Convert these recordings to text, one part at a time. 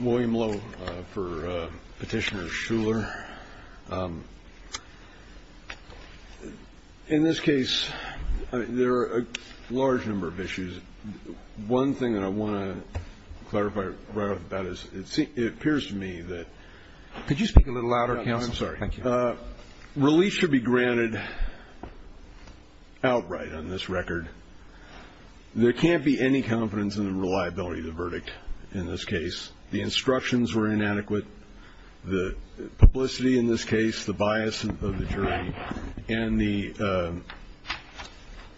William Lowe for Petitioner's Shuler. In this case, there are a large number of issues. One thing that I want to clarify right off the bat is it appears to me that... Could you speak a little louder, counsel? I'm sorry. Thank you. Release should be granted outright on this record. There can't be any confidence in the reliability of the verdict in this case. The instructions were inadequate. The publicity in this case, the bias of the jury, and the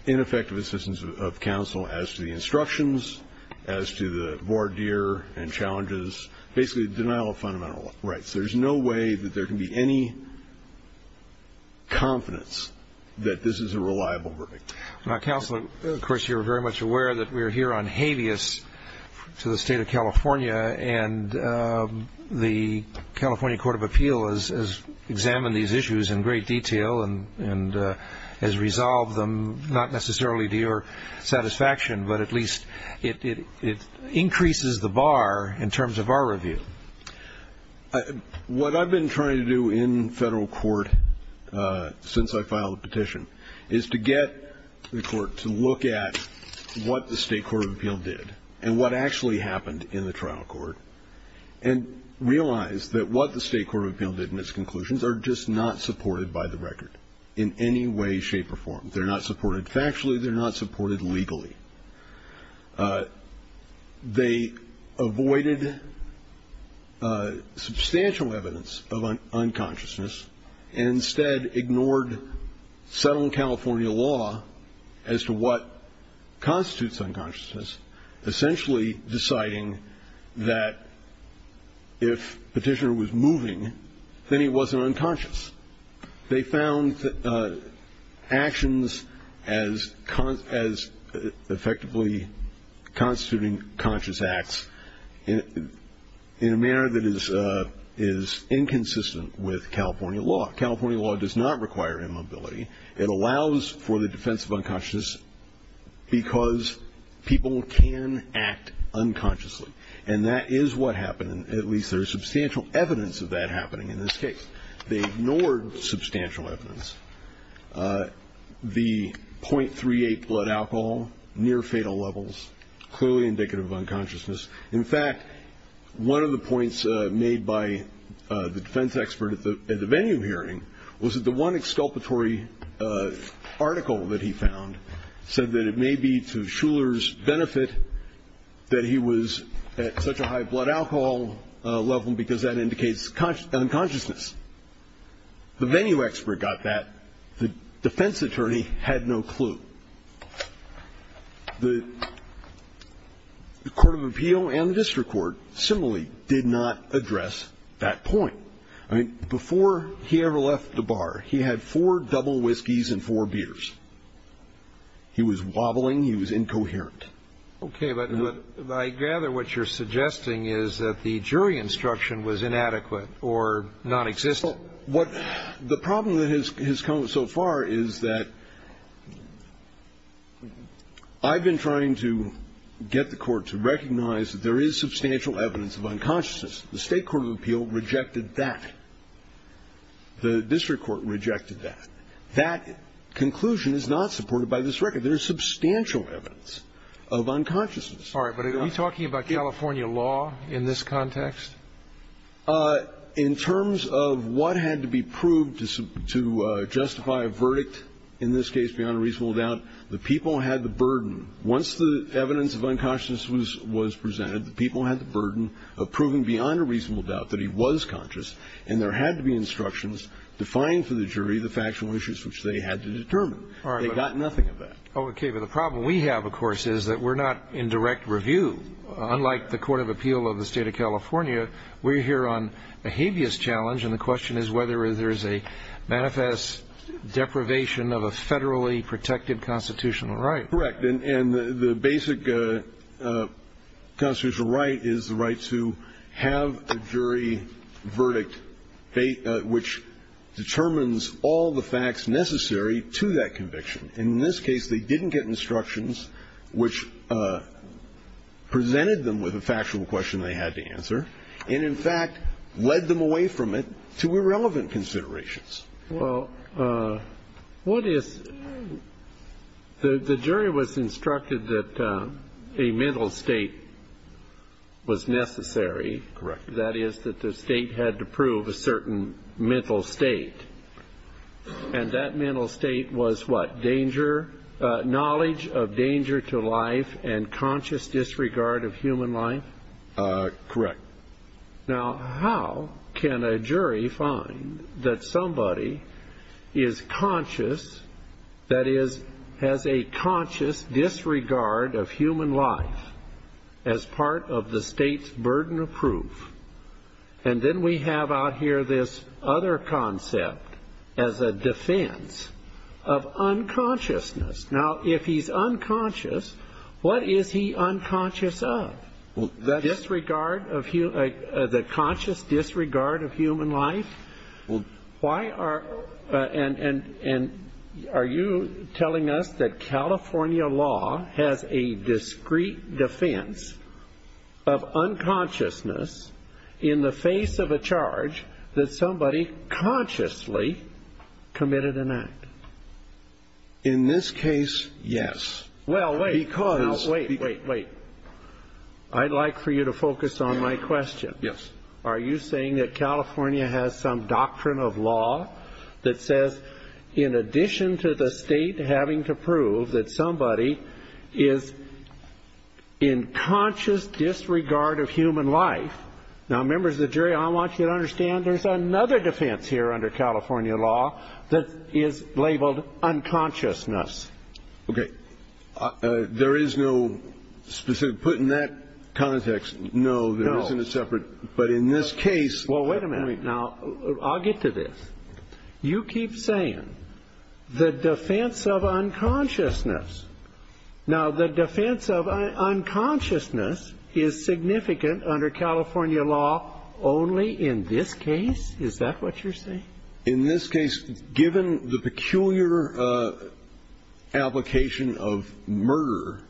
ineffective assistance of counsel as to the instructions, as to the voir dire and challenges, basically the denial of fundamental rights. There's no way that there can be any confidence that this is a reliable verdict. Counsel, of course, you're very much aware that we're here on habeas to the state of California, and the California Court of Appeal has examined these issues in great detail and has resolved them not necessarily to your satisfaction, but at least it increases the bar in terms of our review. What I've been trying to do in federal court since I filed the petition is to get the court to look at what the state court of appeal did and what actually happened in the trial court and realize that what the state court of appeal did in its conclusions are just not supported by the record in any way, shape, or form. They're not supported factually. They're not supported legally. They avoided substantial evidence of unconsciousness and instead ignored Southern California law as to what constitutes unconsciousness, essentially deciding that if Petitioner was moving, then he wasn't unconscious. They found actions as effectively constituting conscious acts in a manner that is inconsistent with California law. California law does not require immobility. It allows for the defense of unconsciousness because people can act unconsciously, and that is what happened, and at least there is substantial evidence of that happening in this case. They ignored substantial evidence, the .38 blood alcohol, near fatal levels, clearly indicative of unconsciousness. In fact, one of the points made by the defense expert at the venue hearing was that the one exculpatory article that he found said that it may be to Shuler's benefit that he was at such a high blood alcohol level because that indicates unconsciousness. The venue expert got that. The defense attorney had no clue. The court of appeal and the district court similarly did not address that point. I mean, before he ever left the bar, he had four double whiskeys and four beers. He was wobbling. He was incoherent. Okay. But I gather what you're suggesting is that the jury instruction was inadequate or nonexistent. Well, what the problem that has come so far is that I've been trying to get the court to recognize that there is substantial evidence of unconsciousness. The state court of appeal rejected that. The district court rejected that. That conclusion is not supported by this record. There is substantial evidence of unconsciousness. All right. But are you talking about California law in this context? In terms of what had to be proved to justify a verdict, in this case beyond a reasonable doubt, the people had the burden. Once the evidence of unconsciousness was presented, the people had the burden of proving beyond a reasonable doubt that he was conscious, and there had to be instructions defined for the jury the factual issues which they had to determine. All right. They got nothing of that. Okay. But the problem we have, of course, is that we're not in direct review. Unlike the court of appeal of the State of California, we're here on a habeas challenge, and the question is whether there is a manifest deprivation of a federally protected constitutional right. Right. And the basic constitutional right is the right to have a jury verdict which determines all the facts necessary to that conviction. In this case, they didn't get instructions which presented them with a factual question they had to answer and, in fact, led them away from it to irrelevant considerations. Well, what is the jury was instructed that a mental state was necessary. Correct. That is, that the state had to prove a certain mental state, and that mental state was what? Danger, knowledge of danger to life and conscious disregard of human life? Correct. Now, how can a jury find that somebody is conscious, that is, has a conscious disregard of human life as part of the state's burden of proof? And then we have out here this other concept as a defense of unconsciousness. Now, if he's unconscious, what is he unconscious of? Disregard of human, the conscious disregard of human life? Why are, and are you telling us that California law has a discreet defense of unconsciousness in the face of a charge that somebody consciously committed an act? In this case, yes. Well, wait, wait, wait, wait. I'd like for you to focus on my question. Yes. Are you saying that California has some doctrine of law that says, in addition to the state having to prove that somebody is in conscious disregard of human life, now, members of the jury, I want you to understand there's another defense here under California law that is labeled unconsciousness. Okay. There is no specific, put in that context, no, there isn't a separate, but in this case. Well, wait a minute. Now, I'll get to this. You keep saying the defense of unconsciousness. Now, the defense of unconsciousness is significant under California law only in this case? Is that what you're saying? In this case, given the peculiar application of murder,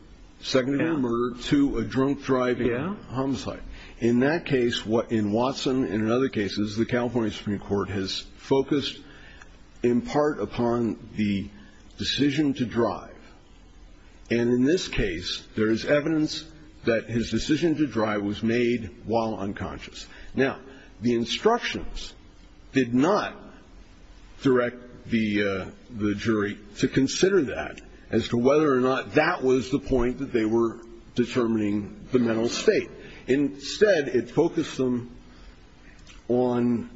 secondary murder to a drunk driving homicide. In that case, in Watson and in other cases, the California Supreme Court has focused in part upon the decision to drive. And in this case, there is evidence that his decision to drive was made while unconscious. Now, the instructions did not direct the jury to consider that as to whether or not that was the point that they were determining the mental state. Instead, it focused them on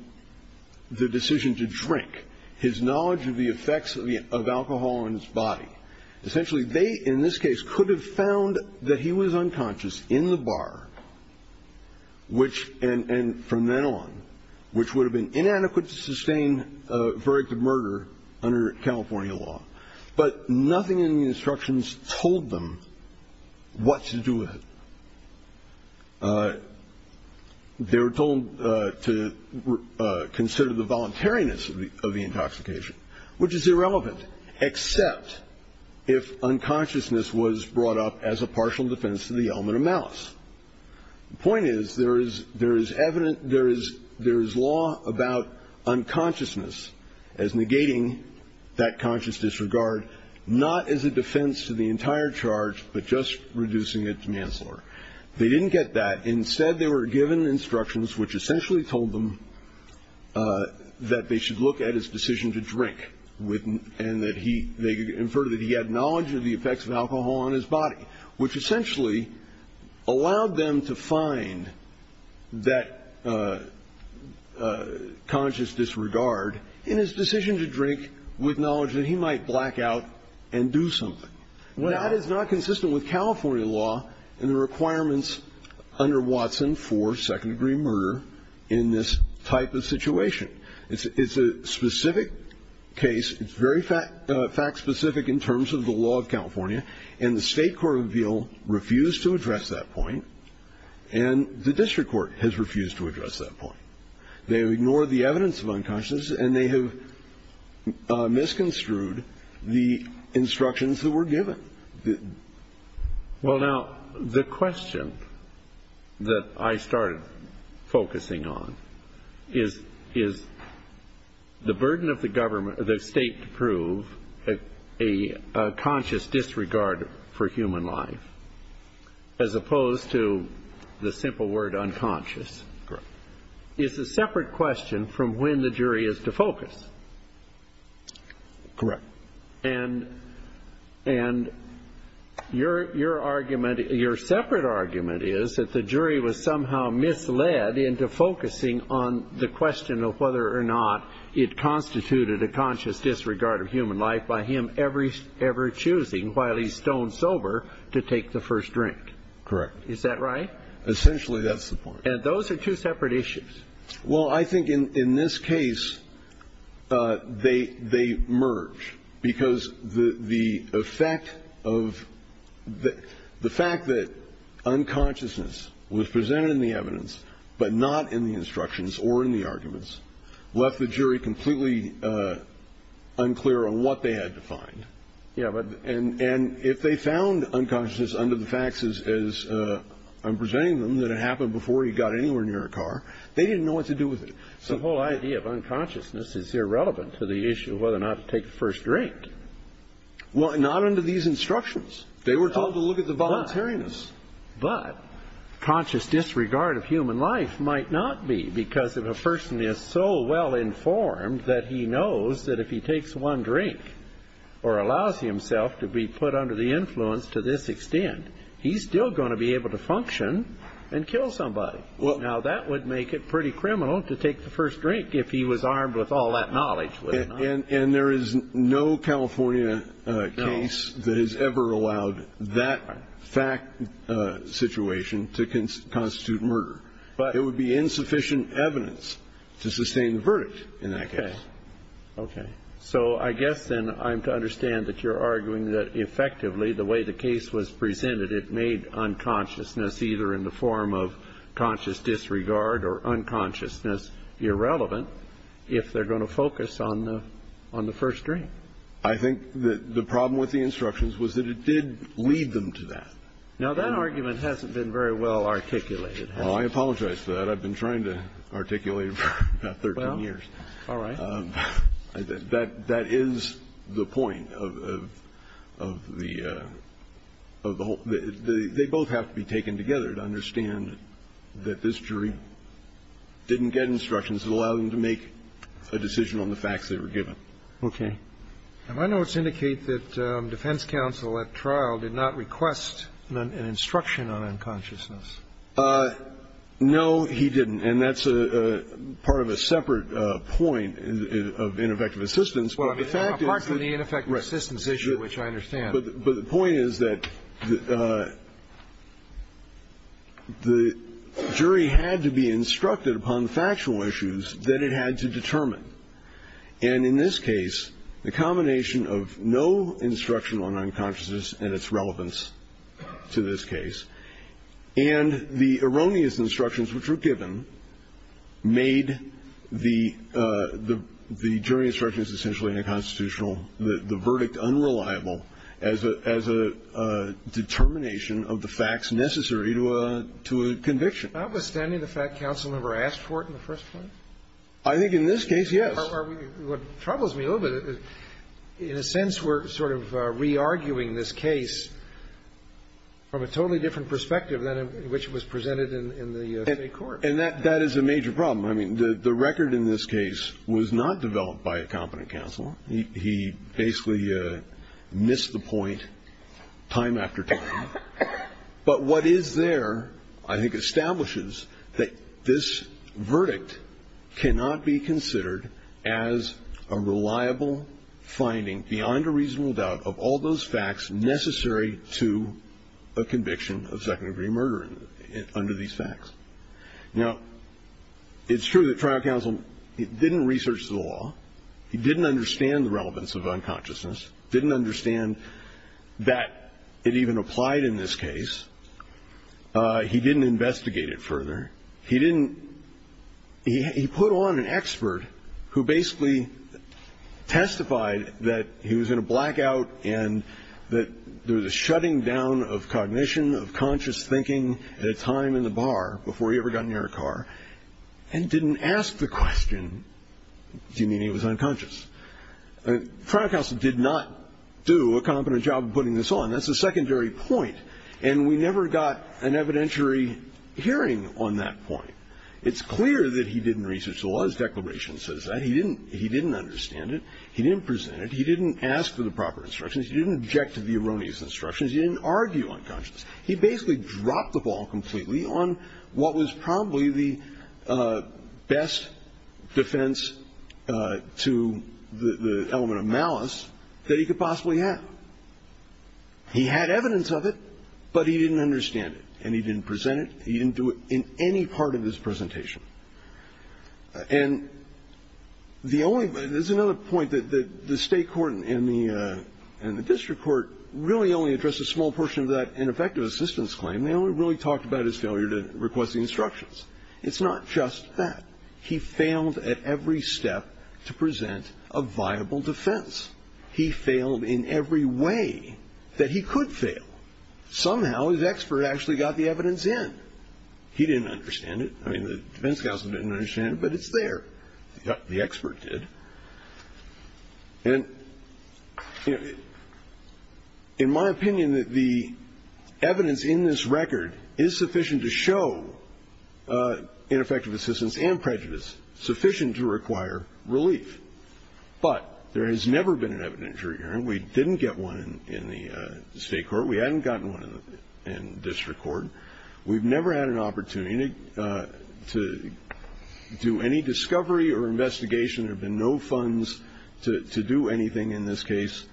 the decision to drink, his knowledge of the effects of alcohol on his body. Essentially, they, in this case, could have found that he was unconscious in the bar, and from then on, which would have been inadequate to sustain a verdict of murder under California law. But nothing in the instructions told them what to do with it. They were told to consider the voluntariness of the intoxication, which is irrelevant, except if unconsciousness was brought up as a partial defense to the element of malice. The point is, there is evidence, there is law about unconsciousness as negating that conscious disregard, not as a defense to the entire charge, but just reducing it to manslaughter. They didn't get that. Instead, they were given instructions which essentially told them that they should look at his decision to drink, and that he, they inferred that he had knowledge of the effects of alcohol on his body, which essentially allowed them to find that conscious disregard in his decision to drink with knowledge that he might black out and do something. Now, that is not consistent with California law and the requirements under Watson for second-degree murder in this type of situation. It's a specific case. It's very fact-specific in terms of the law of California, and the State Court of Appeal refused to address that point, and the District Court has refused to address that point. They have ignored the evidence of unconsciousness, and they have misconstrued the instructions that were given. Well, now, the question that I started focusing on is the burden of the state to prove a conscious disregard for human life as opposed to the simple word unconscious. Correct. It's a separate question from when the jury is to focus. Correct. And your argument, your separate argument is that the jury was somehow misled into focusing on the question of whether or not it constituted a conscious disregard of human life by him ever choosing, while he's stone sober, to take the first drink. Correct. Is that right? Essentially, that's the point. And those are two separate issues. Well, I think in this case, they merge, because the effect of the fact that unconsciousness was presented in the evidence but not in the instructions or in the arguments left the jury completely unclear on what they had to find. Yeah. And if they found unconsciousness under the facts as I'm presenting them, that it happened before he got anywhere near a car, they didn't know what to do with it. So the whole idea of unconsciousness is irrelevant to the issue of whether or not to take the first drink. Well, not under these instructions. They were told to look at the voluntariness. But conscious disregard of human life might not be, because if a person is so well informed that he knows that if he takes one drink or allows himself to be put under the influence to this extent, he's still going to be able to function and kill somebody. Now, that would make it pretty criminal to take the first drink if he was armed with all that knowledge. And there is no California case that has ever allowed that fact situation to constitute murder. It would be insufficient evidence to sustain the verdict in that case. Okay. Okay. So I guess then I'm to understand that you're arguing that effectively the way the case was presented, it made unconsciousness either in the form of conscious disregard or unconsciousness irrelevant if they're going to focus on the first drink. I think the problem with the instructions was that it did lead them to that. Now, that argument hasn't been very well articulated, has it? Oh, I apologize for that. I've been trying to articulate it for about 13 years. All right. That is the point of the whole thing. They both have to be taken together to understand that this jury didn't get instructions that allowed them to make a decision on the facts they were given. Okay. My notes indicate that defense counsel at trial did not request an instruction on unconsciousness. No, he didn't. And that's part of a separate point of ineffective assistance. Well, I mean, apart from the ineffective assistance issue, which I understand. But the point is that the jury had to be instructed upon the factual issues that it had to determine. And in this case, the combination of no instruction on unconsciousness and its relevance to this case and the erroneous instructions which were given made the jury instructions essentially unconstitutional, the verdict unreliable, as a determination of the facts necessary to a conviction. Notwithstanding the fact counsel never asked for it in the first place? I think in this case, yes. What troubles me a little bit, in a sense, we're sort of re-arguing this case from a totally different perspective than in which it was presented in the State court. And that is a major problem. I mean, the record in this case was not developed by a competent counsel. He basically missed the point time after time. But what is there, I think, establishes that this verdict cannot be considered as a reliable finding beyond a reasonable doubt of all those facts necessary to a conviction of second degree murder under these facts. Now, it's true that trial counsel didn't research the law. He didn't understand the relevance of unconsciousness. He didn't understand that it even applied in this case. He didn't investigate it further. He didn't. He put on an expert who basically testified that he was in a blackout and that there was a shutting down of cognition, of conscious thinking at a time in the bar before he ever got near a car, and didn't ask the question, do you mean he was unconscious? Trial counsel did not do a competent job of putting this on. That's a secondary point. And we never got an evidentiary hearing on that point. It's clear that he didn't research the law. His declaration says that. He didn't understand it. He didn't present it. He didn't ask for the proper instructions. He didn't object to the erroneous instructions. He didn't argue unconscious. He basically dropped the ball completely on what was probably the best defense to the element of malice that he could possibly have. He had evidence of it, but he didn't understand it. And he didn't present it. He didn't do it in any part of his presentation. And there's another point that the state court and the district court really only addressed a small portion of that ineffective assistance claim. They only really talked about his failure to request the instructions. It's not just that. He failed at every step to present a viable defense. He failed in every way that he could fail. Somehow his expert actually got the evidence in. He didn't understand it. I mean, the defense counsel didn't understand it, but it's there. The expert did. And, you know, in my opinion, the evidence in this record is sufficient to show ineffective assistance and prejudice, sufficient to require relief. But there has never been an evident jury hearing. We didn't get one in the state court. We hadn't gotten one in district court. We've never had an opportunity to do any discovery or investigation. There have been no funds to do anything in this case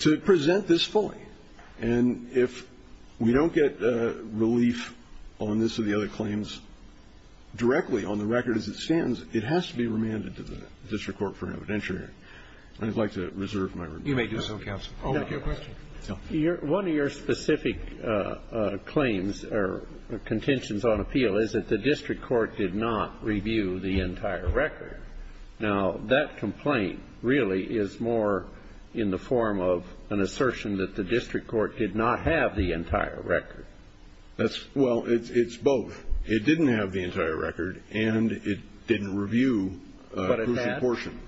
to present this fully. And if we don't get relief on this or the other claims directly on the record as it stands, it has to be remanded to the district court for an evidentiary. And I'd like to reserve my remand. Roberts. You may do so, counsel. Your question. One of your specific claims or contentions on appeal is that the district court did not review the entire record. Now, that complaint really is more in the form of an assertion that the district court did not have the entire record. Well, it's both. It didn't have the entire record, and it didn't review a portion.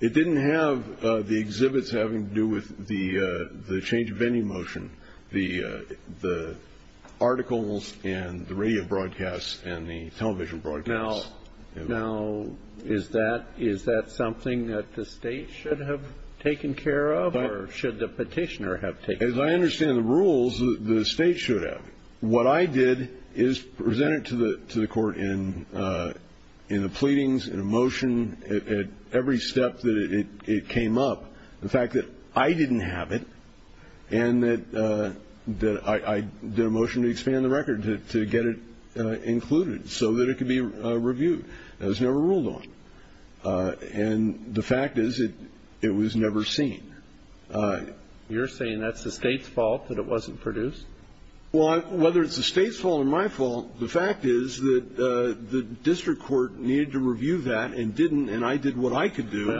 It didn't have the exhibits having to do with the change of venue motion, the articles and the radio broadcasts and the television broadcasts. Now, is that something that the state should have taken care of or should the petitioner have taken care of? As I understand the rules, the state should have. What I did is present it to the court in the pleadings, in a motion, at every step that it came up. The fact that I didn't have it and that I did a motion to expand the record, to get it included so that it could be reviewed, that was never ruled on. And the fact is it was never seen. You're saying that's the state's fault, that it wasn't produced? Well, whether it's the state's fault or my fault, the fact is that the district court needed to review that and didn't, and I did what I could do to get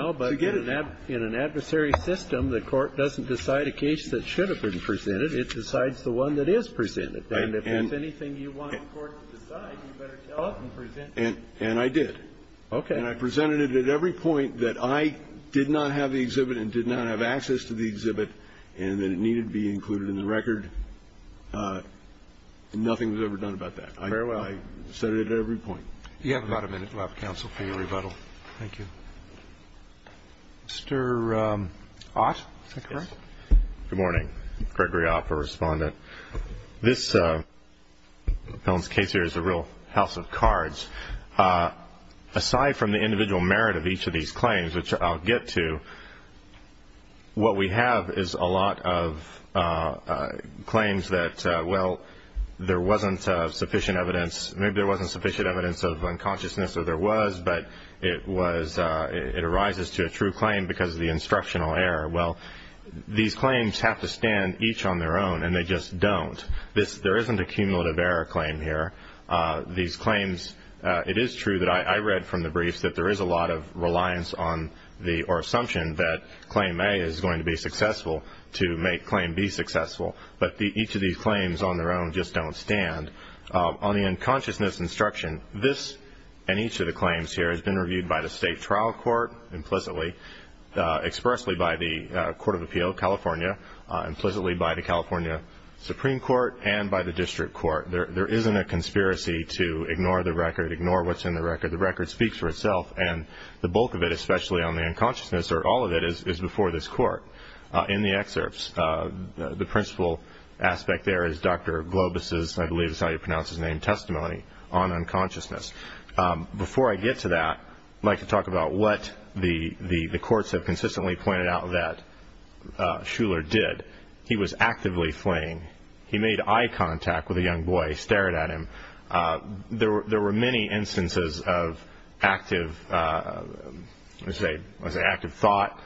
it. Well, but in an adversary system, the court doesn't decide a case that should have been presented. It decides the one that is presented. And if there's anything you want the court to decide, you better tell us and present it. And I did. Okay. And I presented it at every point that I did not have the exhibit and did not have access to the exhibit and that it needed to be included in the record. Nothing was ever done about that. Fair enough. I said it at every point. You have about a minute left, counsel, for your rebuttal. Thank you. Mr. Ott, is that correct? Yes. Good morning. Gregory Ott, a respondent. This case here is a real house of cards. Aside from the individual merit of each of these claims, which I'll get to, what we have is a lot of claims that, well, there wasn't sufficient evidence. Maybe there wasn't sufficient evidence of unconsciousness, or there was, but it arises to a true claim because of the instructional error. Well, these claims have to stand each on their own, and they just don't. There isn't a cumulative error claim here. These claims, it is true that I read from the briefs that there is a lot of reliance on the or assumption that claim A is going to be successful to make claim B successful, but each of these claims on their own just don't stand. On the unconsciousness instruction, this and each of the claims here has been reviewed by the state trial court, implicitly, expressly by the Court of Appeal, California, implicitly by the California Supreme Court, and by the district court. There isn't a conspiracy to ignore the record, ignore what's in the record. The record speaks for itself, and the bulk of it, especially on the unconsciousness, or all of it is before this court. In the excerpts, the principal aspect there is Dr. Globus's, I believe that's how you pronounce his name, testimony on unconsciousness. Before I get to that, I'd like to talk about what the courts have consistently pointed out that Shuler did. He was actively fleeing. He made eye contact with a young boy, stared at him. There were many instances of active thought,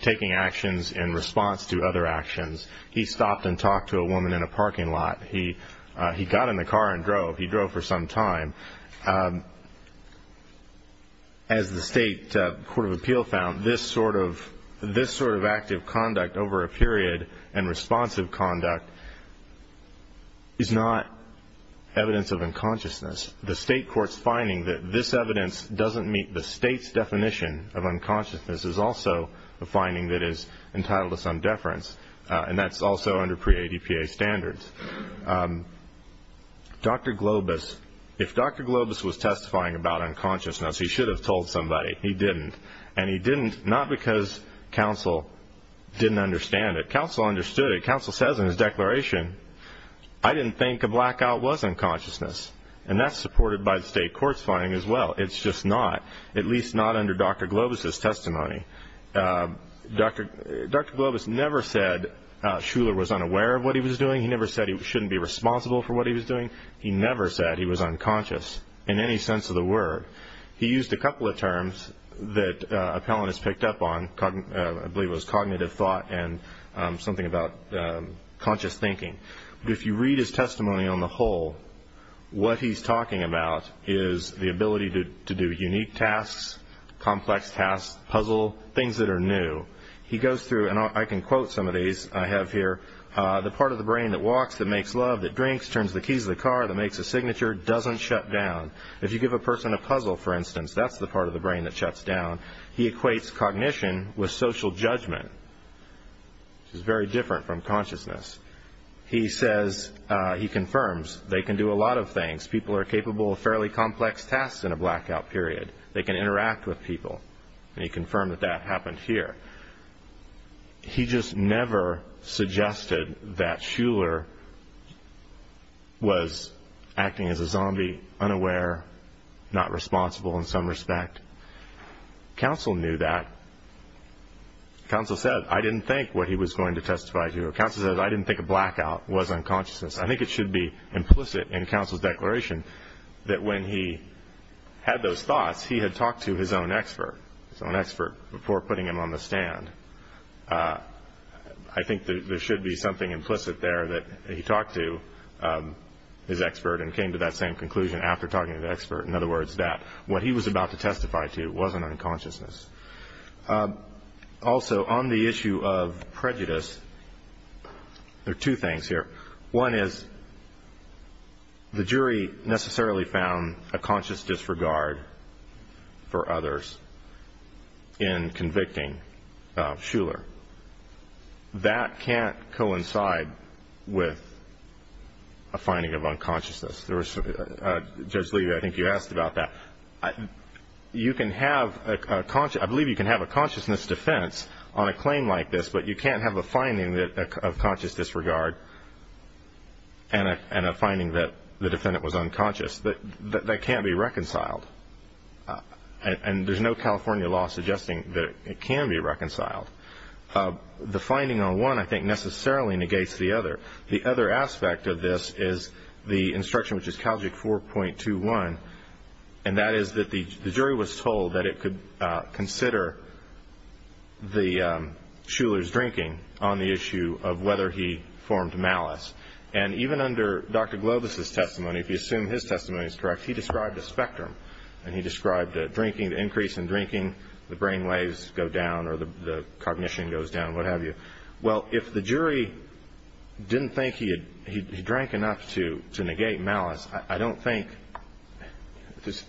taking actions in response to other actions. He stopped and talked to a woman in a parking lot. He got in the car and drove. He drove for some time. As the state Court of Appeal found, this sort of active conduct over a period and responsive conduct is not evidence of unconsciousness. The state court's finding that this evidence doesn't meet the state's definition of unconsciousness is also a finding that is entitled to some deference, and that's also under pre-ADPA standards. Dr. Globus, if Dr. Globus was testifying about unconsciousness, he should have told somebody. He didn't, and he didn't not because counsel didn't understand it. Counsel understood it. Counsel says in his declaration, I didn't think a blackout was unconsciousness, and that's supported by the state court's finding as well. It's just not, at least not under Dr. Globus' testimony. Dr. Globus never said Shuler was unaware of what he was doing. He never said he shouldn't be responsible for what he was doing. He never said he was unconscious in any sense of the word. He used a couple of terms that appellants picked up on. I believe it was cognitive thought and something about conscious thinking. But if you read his testimony on the whole, what he's talking about is the ability to do unique tasks, complex tasks, puzzle, things that are new. He goes through, and I can quote some of these I have here, the part of the brain that walks, that makes love, that drinks, turns the keys of the car, that makes a signature, doesn't shut down. If you give a person a puzzle, for instance, that's the part of the brain that shuts down. He equates cognition with social judgment, which is very different from consciousness. He confirms they can do a lot of things. People are capable of fairly complex tasks in a blackout period. They can interact with people, and he confirmed that that happened here. He just never suggested that Shuler was acting as a zombie, unaware, not responsible in some respect. Counsel knew that. Counsel said, I didn't think what he was going to testify to. Counsel said, I didn't think a blackout was unconsciousness. I think it should be implicit in Counsel's declaration that when he had those thoughts, he had talked to his own expert, his own expert, before putting him on the stand. I think there should be something implicit there that he talked to his expert and came to that same conclusion after talking to the expert. In other words, that what he was about to testify to wasn't unconsciousness. Also, on the issue of prejudice, there are two things here. One is the jury necessarily found a conscious disregard for others in convicting Shuler. That can't coincide with a finding of unconsciousness. Judge Levy, I think you asked about that. I believe you can have a consciousness defense on a claim like this, but you can't have a finding of conscious disregard and a finding that the defendant was unconscious. That can't be reconciled, and there's no California law suggesting that it can be reconciled. The finding on one, I think, necessarily negates the other. The other aspect of this is the instruction, which is Calgic 4.21, and that is that the jury was told that it could consider Shuler's drinking on the issue of whether he formed malice. And even under Dr. Globus' testimony, if you assume his testimony is correct, he described a spectrum, and he described the increase in drinking, the brain waves go down or the cognition goes down, what have you. Well, if the jury didn't think he drank enough to negate malice, I don't think,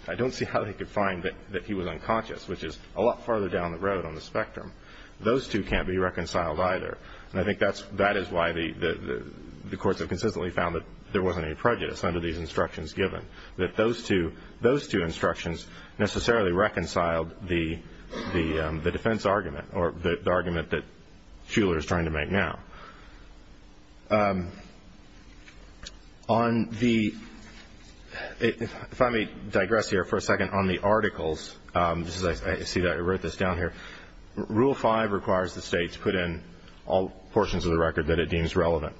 I don't see how they could find that he was unconscious, which is a lot farther down the road on the spectrum. Those two can't be reconciled either, and I think that is why the courts have consistently found that there wasn't any prejudice under these instructions given, that those two instructions necessarily reconciled the defense argument or the argument that Shuler is trying to make now. If I may digress here for a second on the articles, I see that I wrote this down here. Rule 5 requires the state to put in all portions of the record that it deems relevant.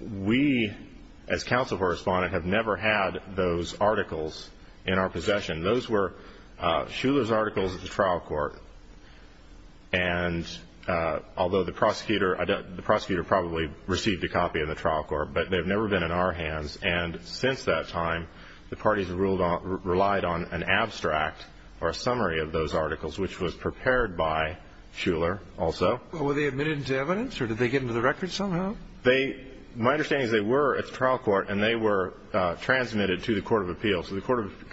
We, as counsel for a respondent, have never had those articles in our possession. Those were Shuler's articles at the trial court, and although the prosecutor probably received a copy in the trial court, but they've never been in our hands, and since that time the parties have relied on an abstract or a summary of those articles, which was prepared by Shuler also. Well, were they admitted to evidence, or did they get into the record somehow? My understanding is they were at the trial court, and they were transmitted to the Court of Appeals. The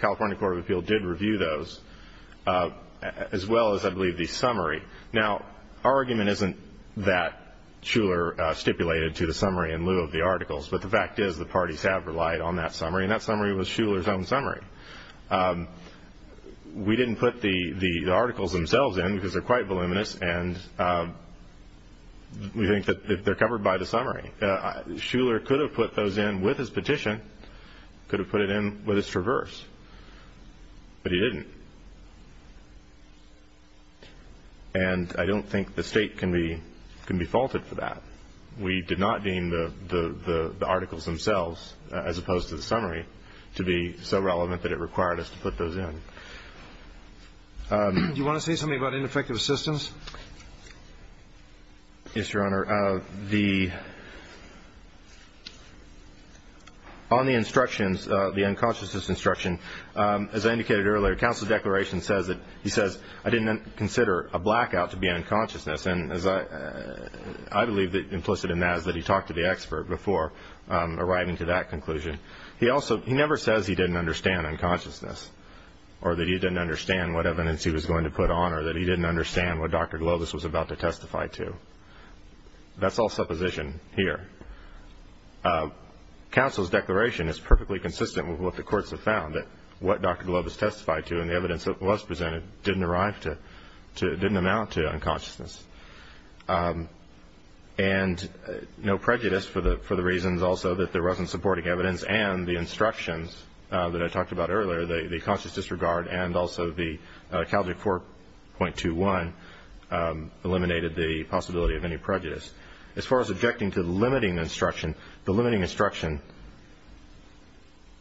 California Court of Appeals did review those as well as, I believe, the summary. Now, our argument isn't that Shuler stipulated to the summary in lieu of the articles, but the fact is the parties have relied on that summary, and that summary was Shuler's own summary. We didn't put the articles themselves in because they're quite voluminous, and we think that they're covered by the summary. Shuler could have put those in with his petition, could have put it in with his traverse, but he didn't. And I don't think the State can be faulted for that. We did not deem the articles themselves, as opposed to the summary, to be so relevant that it required us to put those in. Do you want to say something about ineffective assistance? Yes, Your Honor. On the instructions, the unconsciousness instruction, as I indicated earlier, counsel's declaration says that he says, I didn't consider a blackout to be unconsciousness. And I believe that implicit in that is that he talked to the expert before arriving to that conclusion. He never says he didn't understand unconsciousness or that he didn't understand what evidence he was going to put on or that he didn't understand what Dr. Globus was about to testify to. That's all supposition here. Counsel's declaration is perfectly consistent with what the courts have found, that what Dr. Globus testified to and the evidence that was presented didn't amount to unconsciousness. And no prejudice for the reasons also that there wasn't supporting evidence and the instructions that I talked about earlier, the conscious disregard, and also the Calvary 4.21 eliminated the possibility of any prejudice. As far as objecting to the limiting instruction, the limiting instruction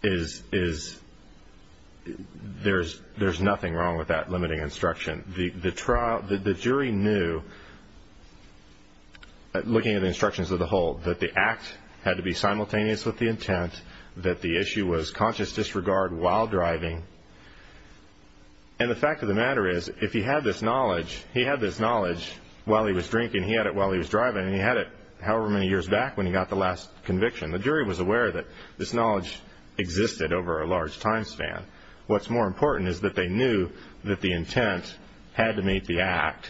is there's nothing wrong with that limiting instruction. The jury knew, looking at the instructions as a whole, that the act had to be simultaneous with the intent, that the issue was conscious disregard while driving. And the fact of the matter is, if he had this knowledge, he had this knowledge while he was drinking, he had it while he was driving, and he had it however many years back when he got the last conviction. The jury was aware that this knowledge existed over a large time span. What's more important is that they knew that the intent had to meet the act,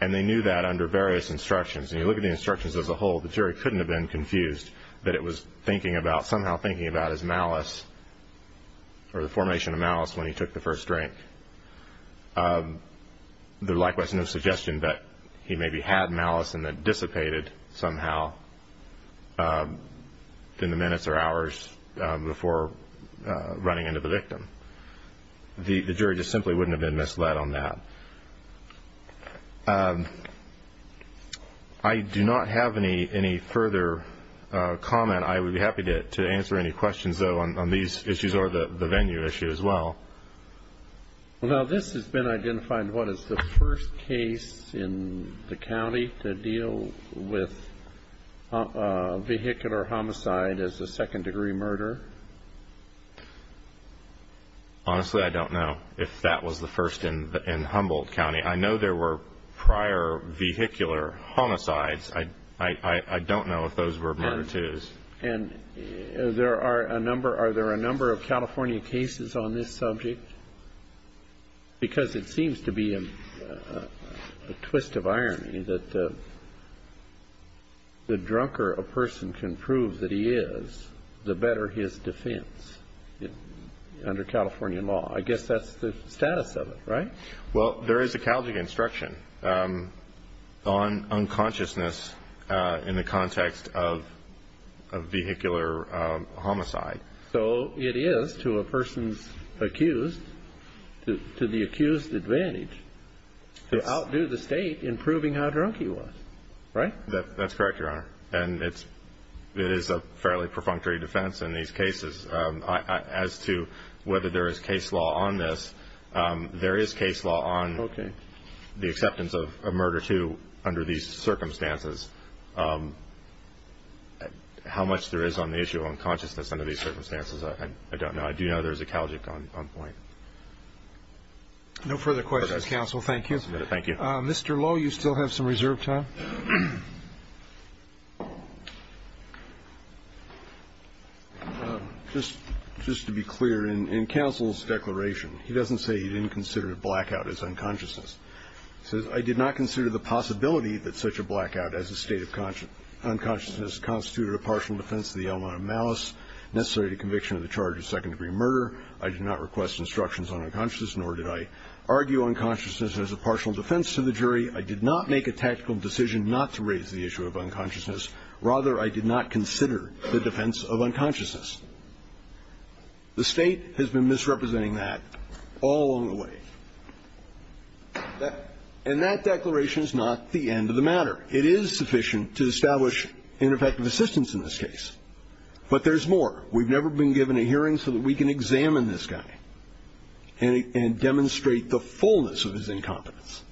and they knew that under various instructions. And you look at the instructions as a whole, the jury couldn't have been confused that it was thinking about, somehow thinking about his malice or the formation of malice when he took the first drink. There likewise is no suggestion that he maybe had malice and that dissipated somehow in the minutes or hours before running into the victim. The jury just simply wouldn't have been misled on that. I do not have any further comment. I would be happy to answer any questions, though, on these issues or the venue issue as well. Well, now this has been identified. What is the first case in the county to deal with vehicular homicide as a second-degree murder? Honestly, I don't know if that was the first in Humboldt County. I know there were prior vehicular homicides. I don't know if those were murder twos. And are there a number of California cases on this subject? Because it seems to be a twist of irony that the drunker a person can prove that he is, the better his defense under California law. I guess that's the status of it, right? Well, there is a Calgary instruction on unconsciousness in the context of vehicular homicide. So it is, to a person's accused, to the accused's advantage to outdo the state in proving how drunk he was, right? That's correct, Your Honor. And it is a fairly perfunctory defense in these cases. As to whether there is case law on this, there is case law on the acceptance of a murder two under these circumstances. How much there is on the issue of unconsciousness under these circumstances, I don't know. I do know there is a Calgic on point. No further questions, counsel. Thank you. Mr. Lowe, you still have some reserve time. Just to be clear, in counsel's declaration, he doesn't say he didn't consider a blackout as unconsciousness. He says, I did not consider the possibility that such a blackout as a state of unconsciousness constituted a partial defense of the element of malice necessary to conviction of the charge of second-degree murder. I did not request instructions on unconsciousness, nor did I argue unconsciousness as a partial defense to the jury. I did not make a tactical decision not to raise the issue of unconsciousness. Rather, I did not consider the defense of unconsciousness. The State has been misrepresenting that all along the way. And that declaration is not the end of the matter. It is sufficient to establish ineffective assistance in this case. But there's more. We've never been given a hearing so that we can examine this guy and demonstrate the fullness of his incompetence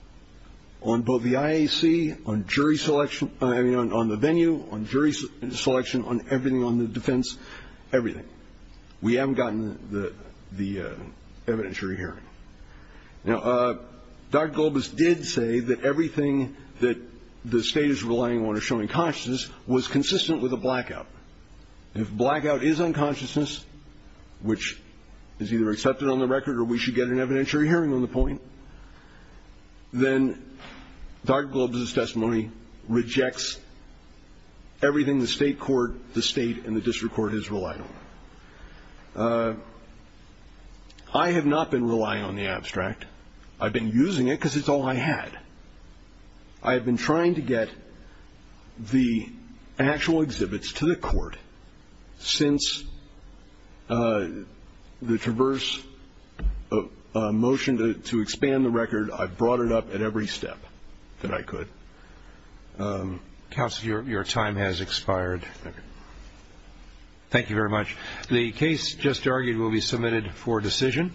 on both the IAC, on jury selection, I mean, on the venue, on jury selection, on everything, on the defense, everything. We haven't gotten the evidentiary hearing. Now, Dr. Gulbis did say that everything that the State is relying on to show unconsciousness was consistent with a blackout. If blackout is unconsciousness, which is either accepted on the record or we should get an evidentiary hearing on the point, then Dr. Gulbis' testimony rejects everything the State court, the State, and the district court has relied on. I have not been relying on the abstract. I've been using it because it's all I had. I have been trying to get the actual exhibits to the court. Since the Traverse motion to expand the record, I've brought it up at every step that I could. Counsel, your time has expired. Thank you. Thank you very much. The case just argued will be submitted for decision.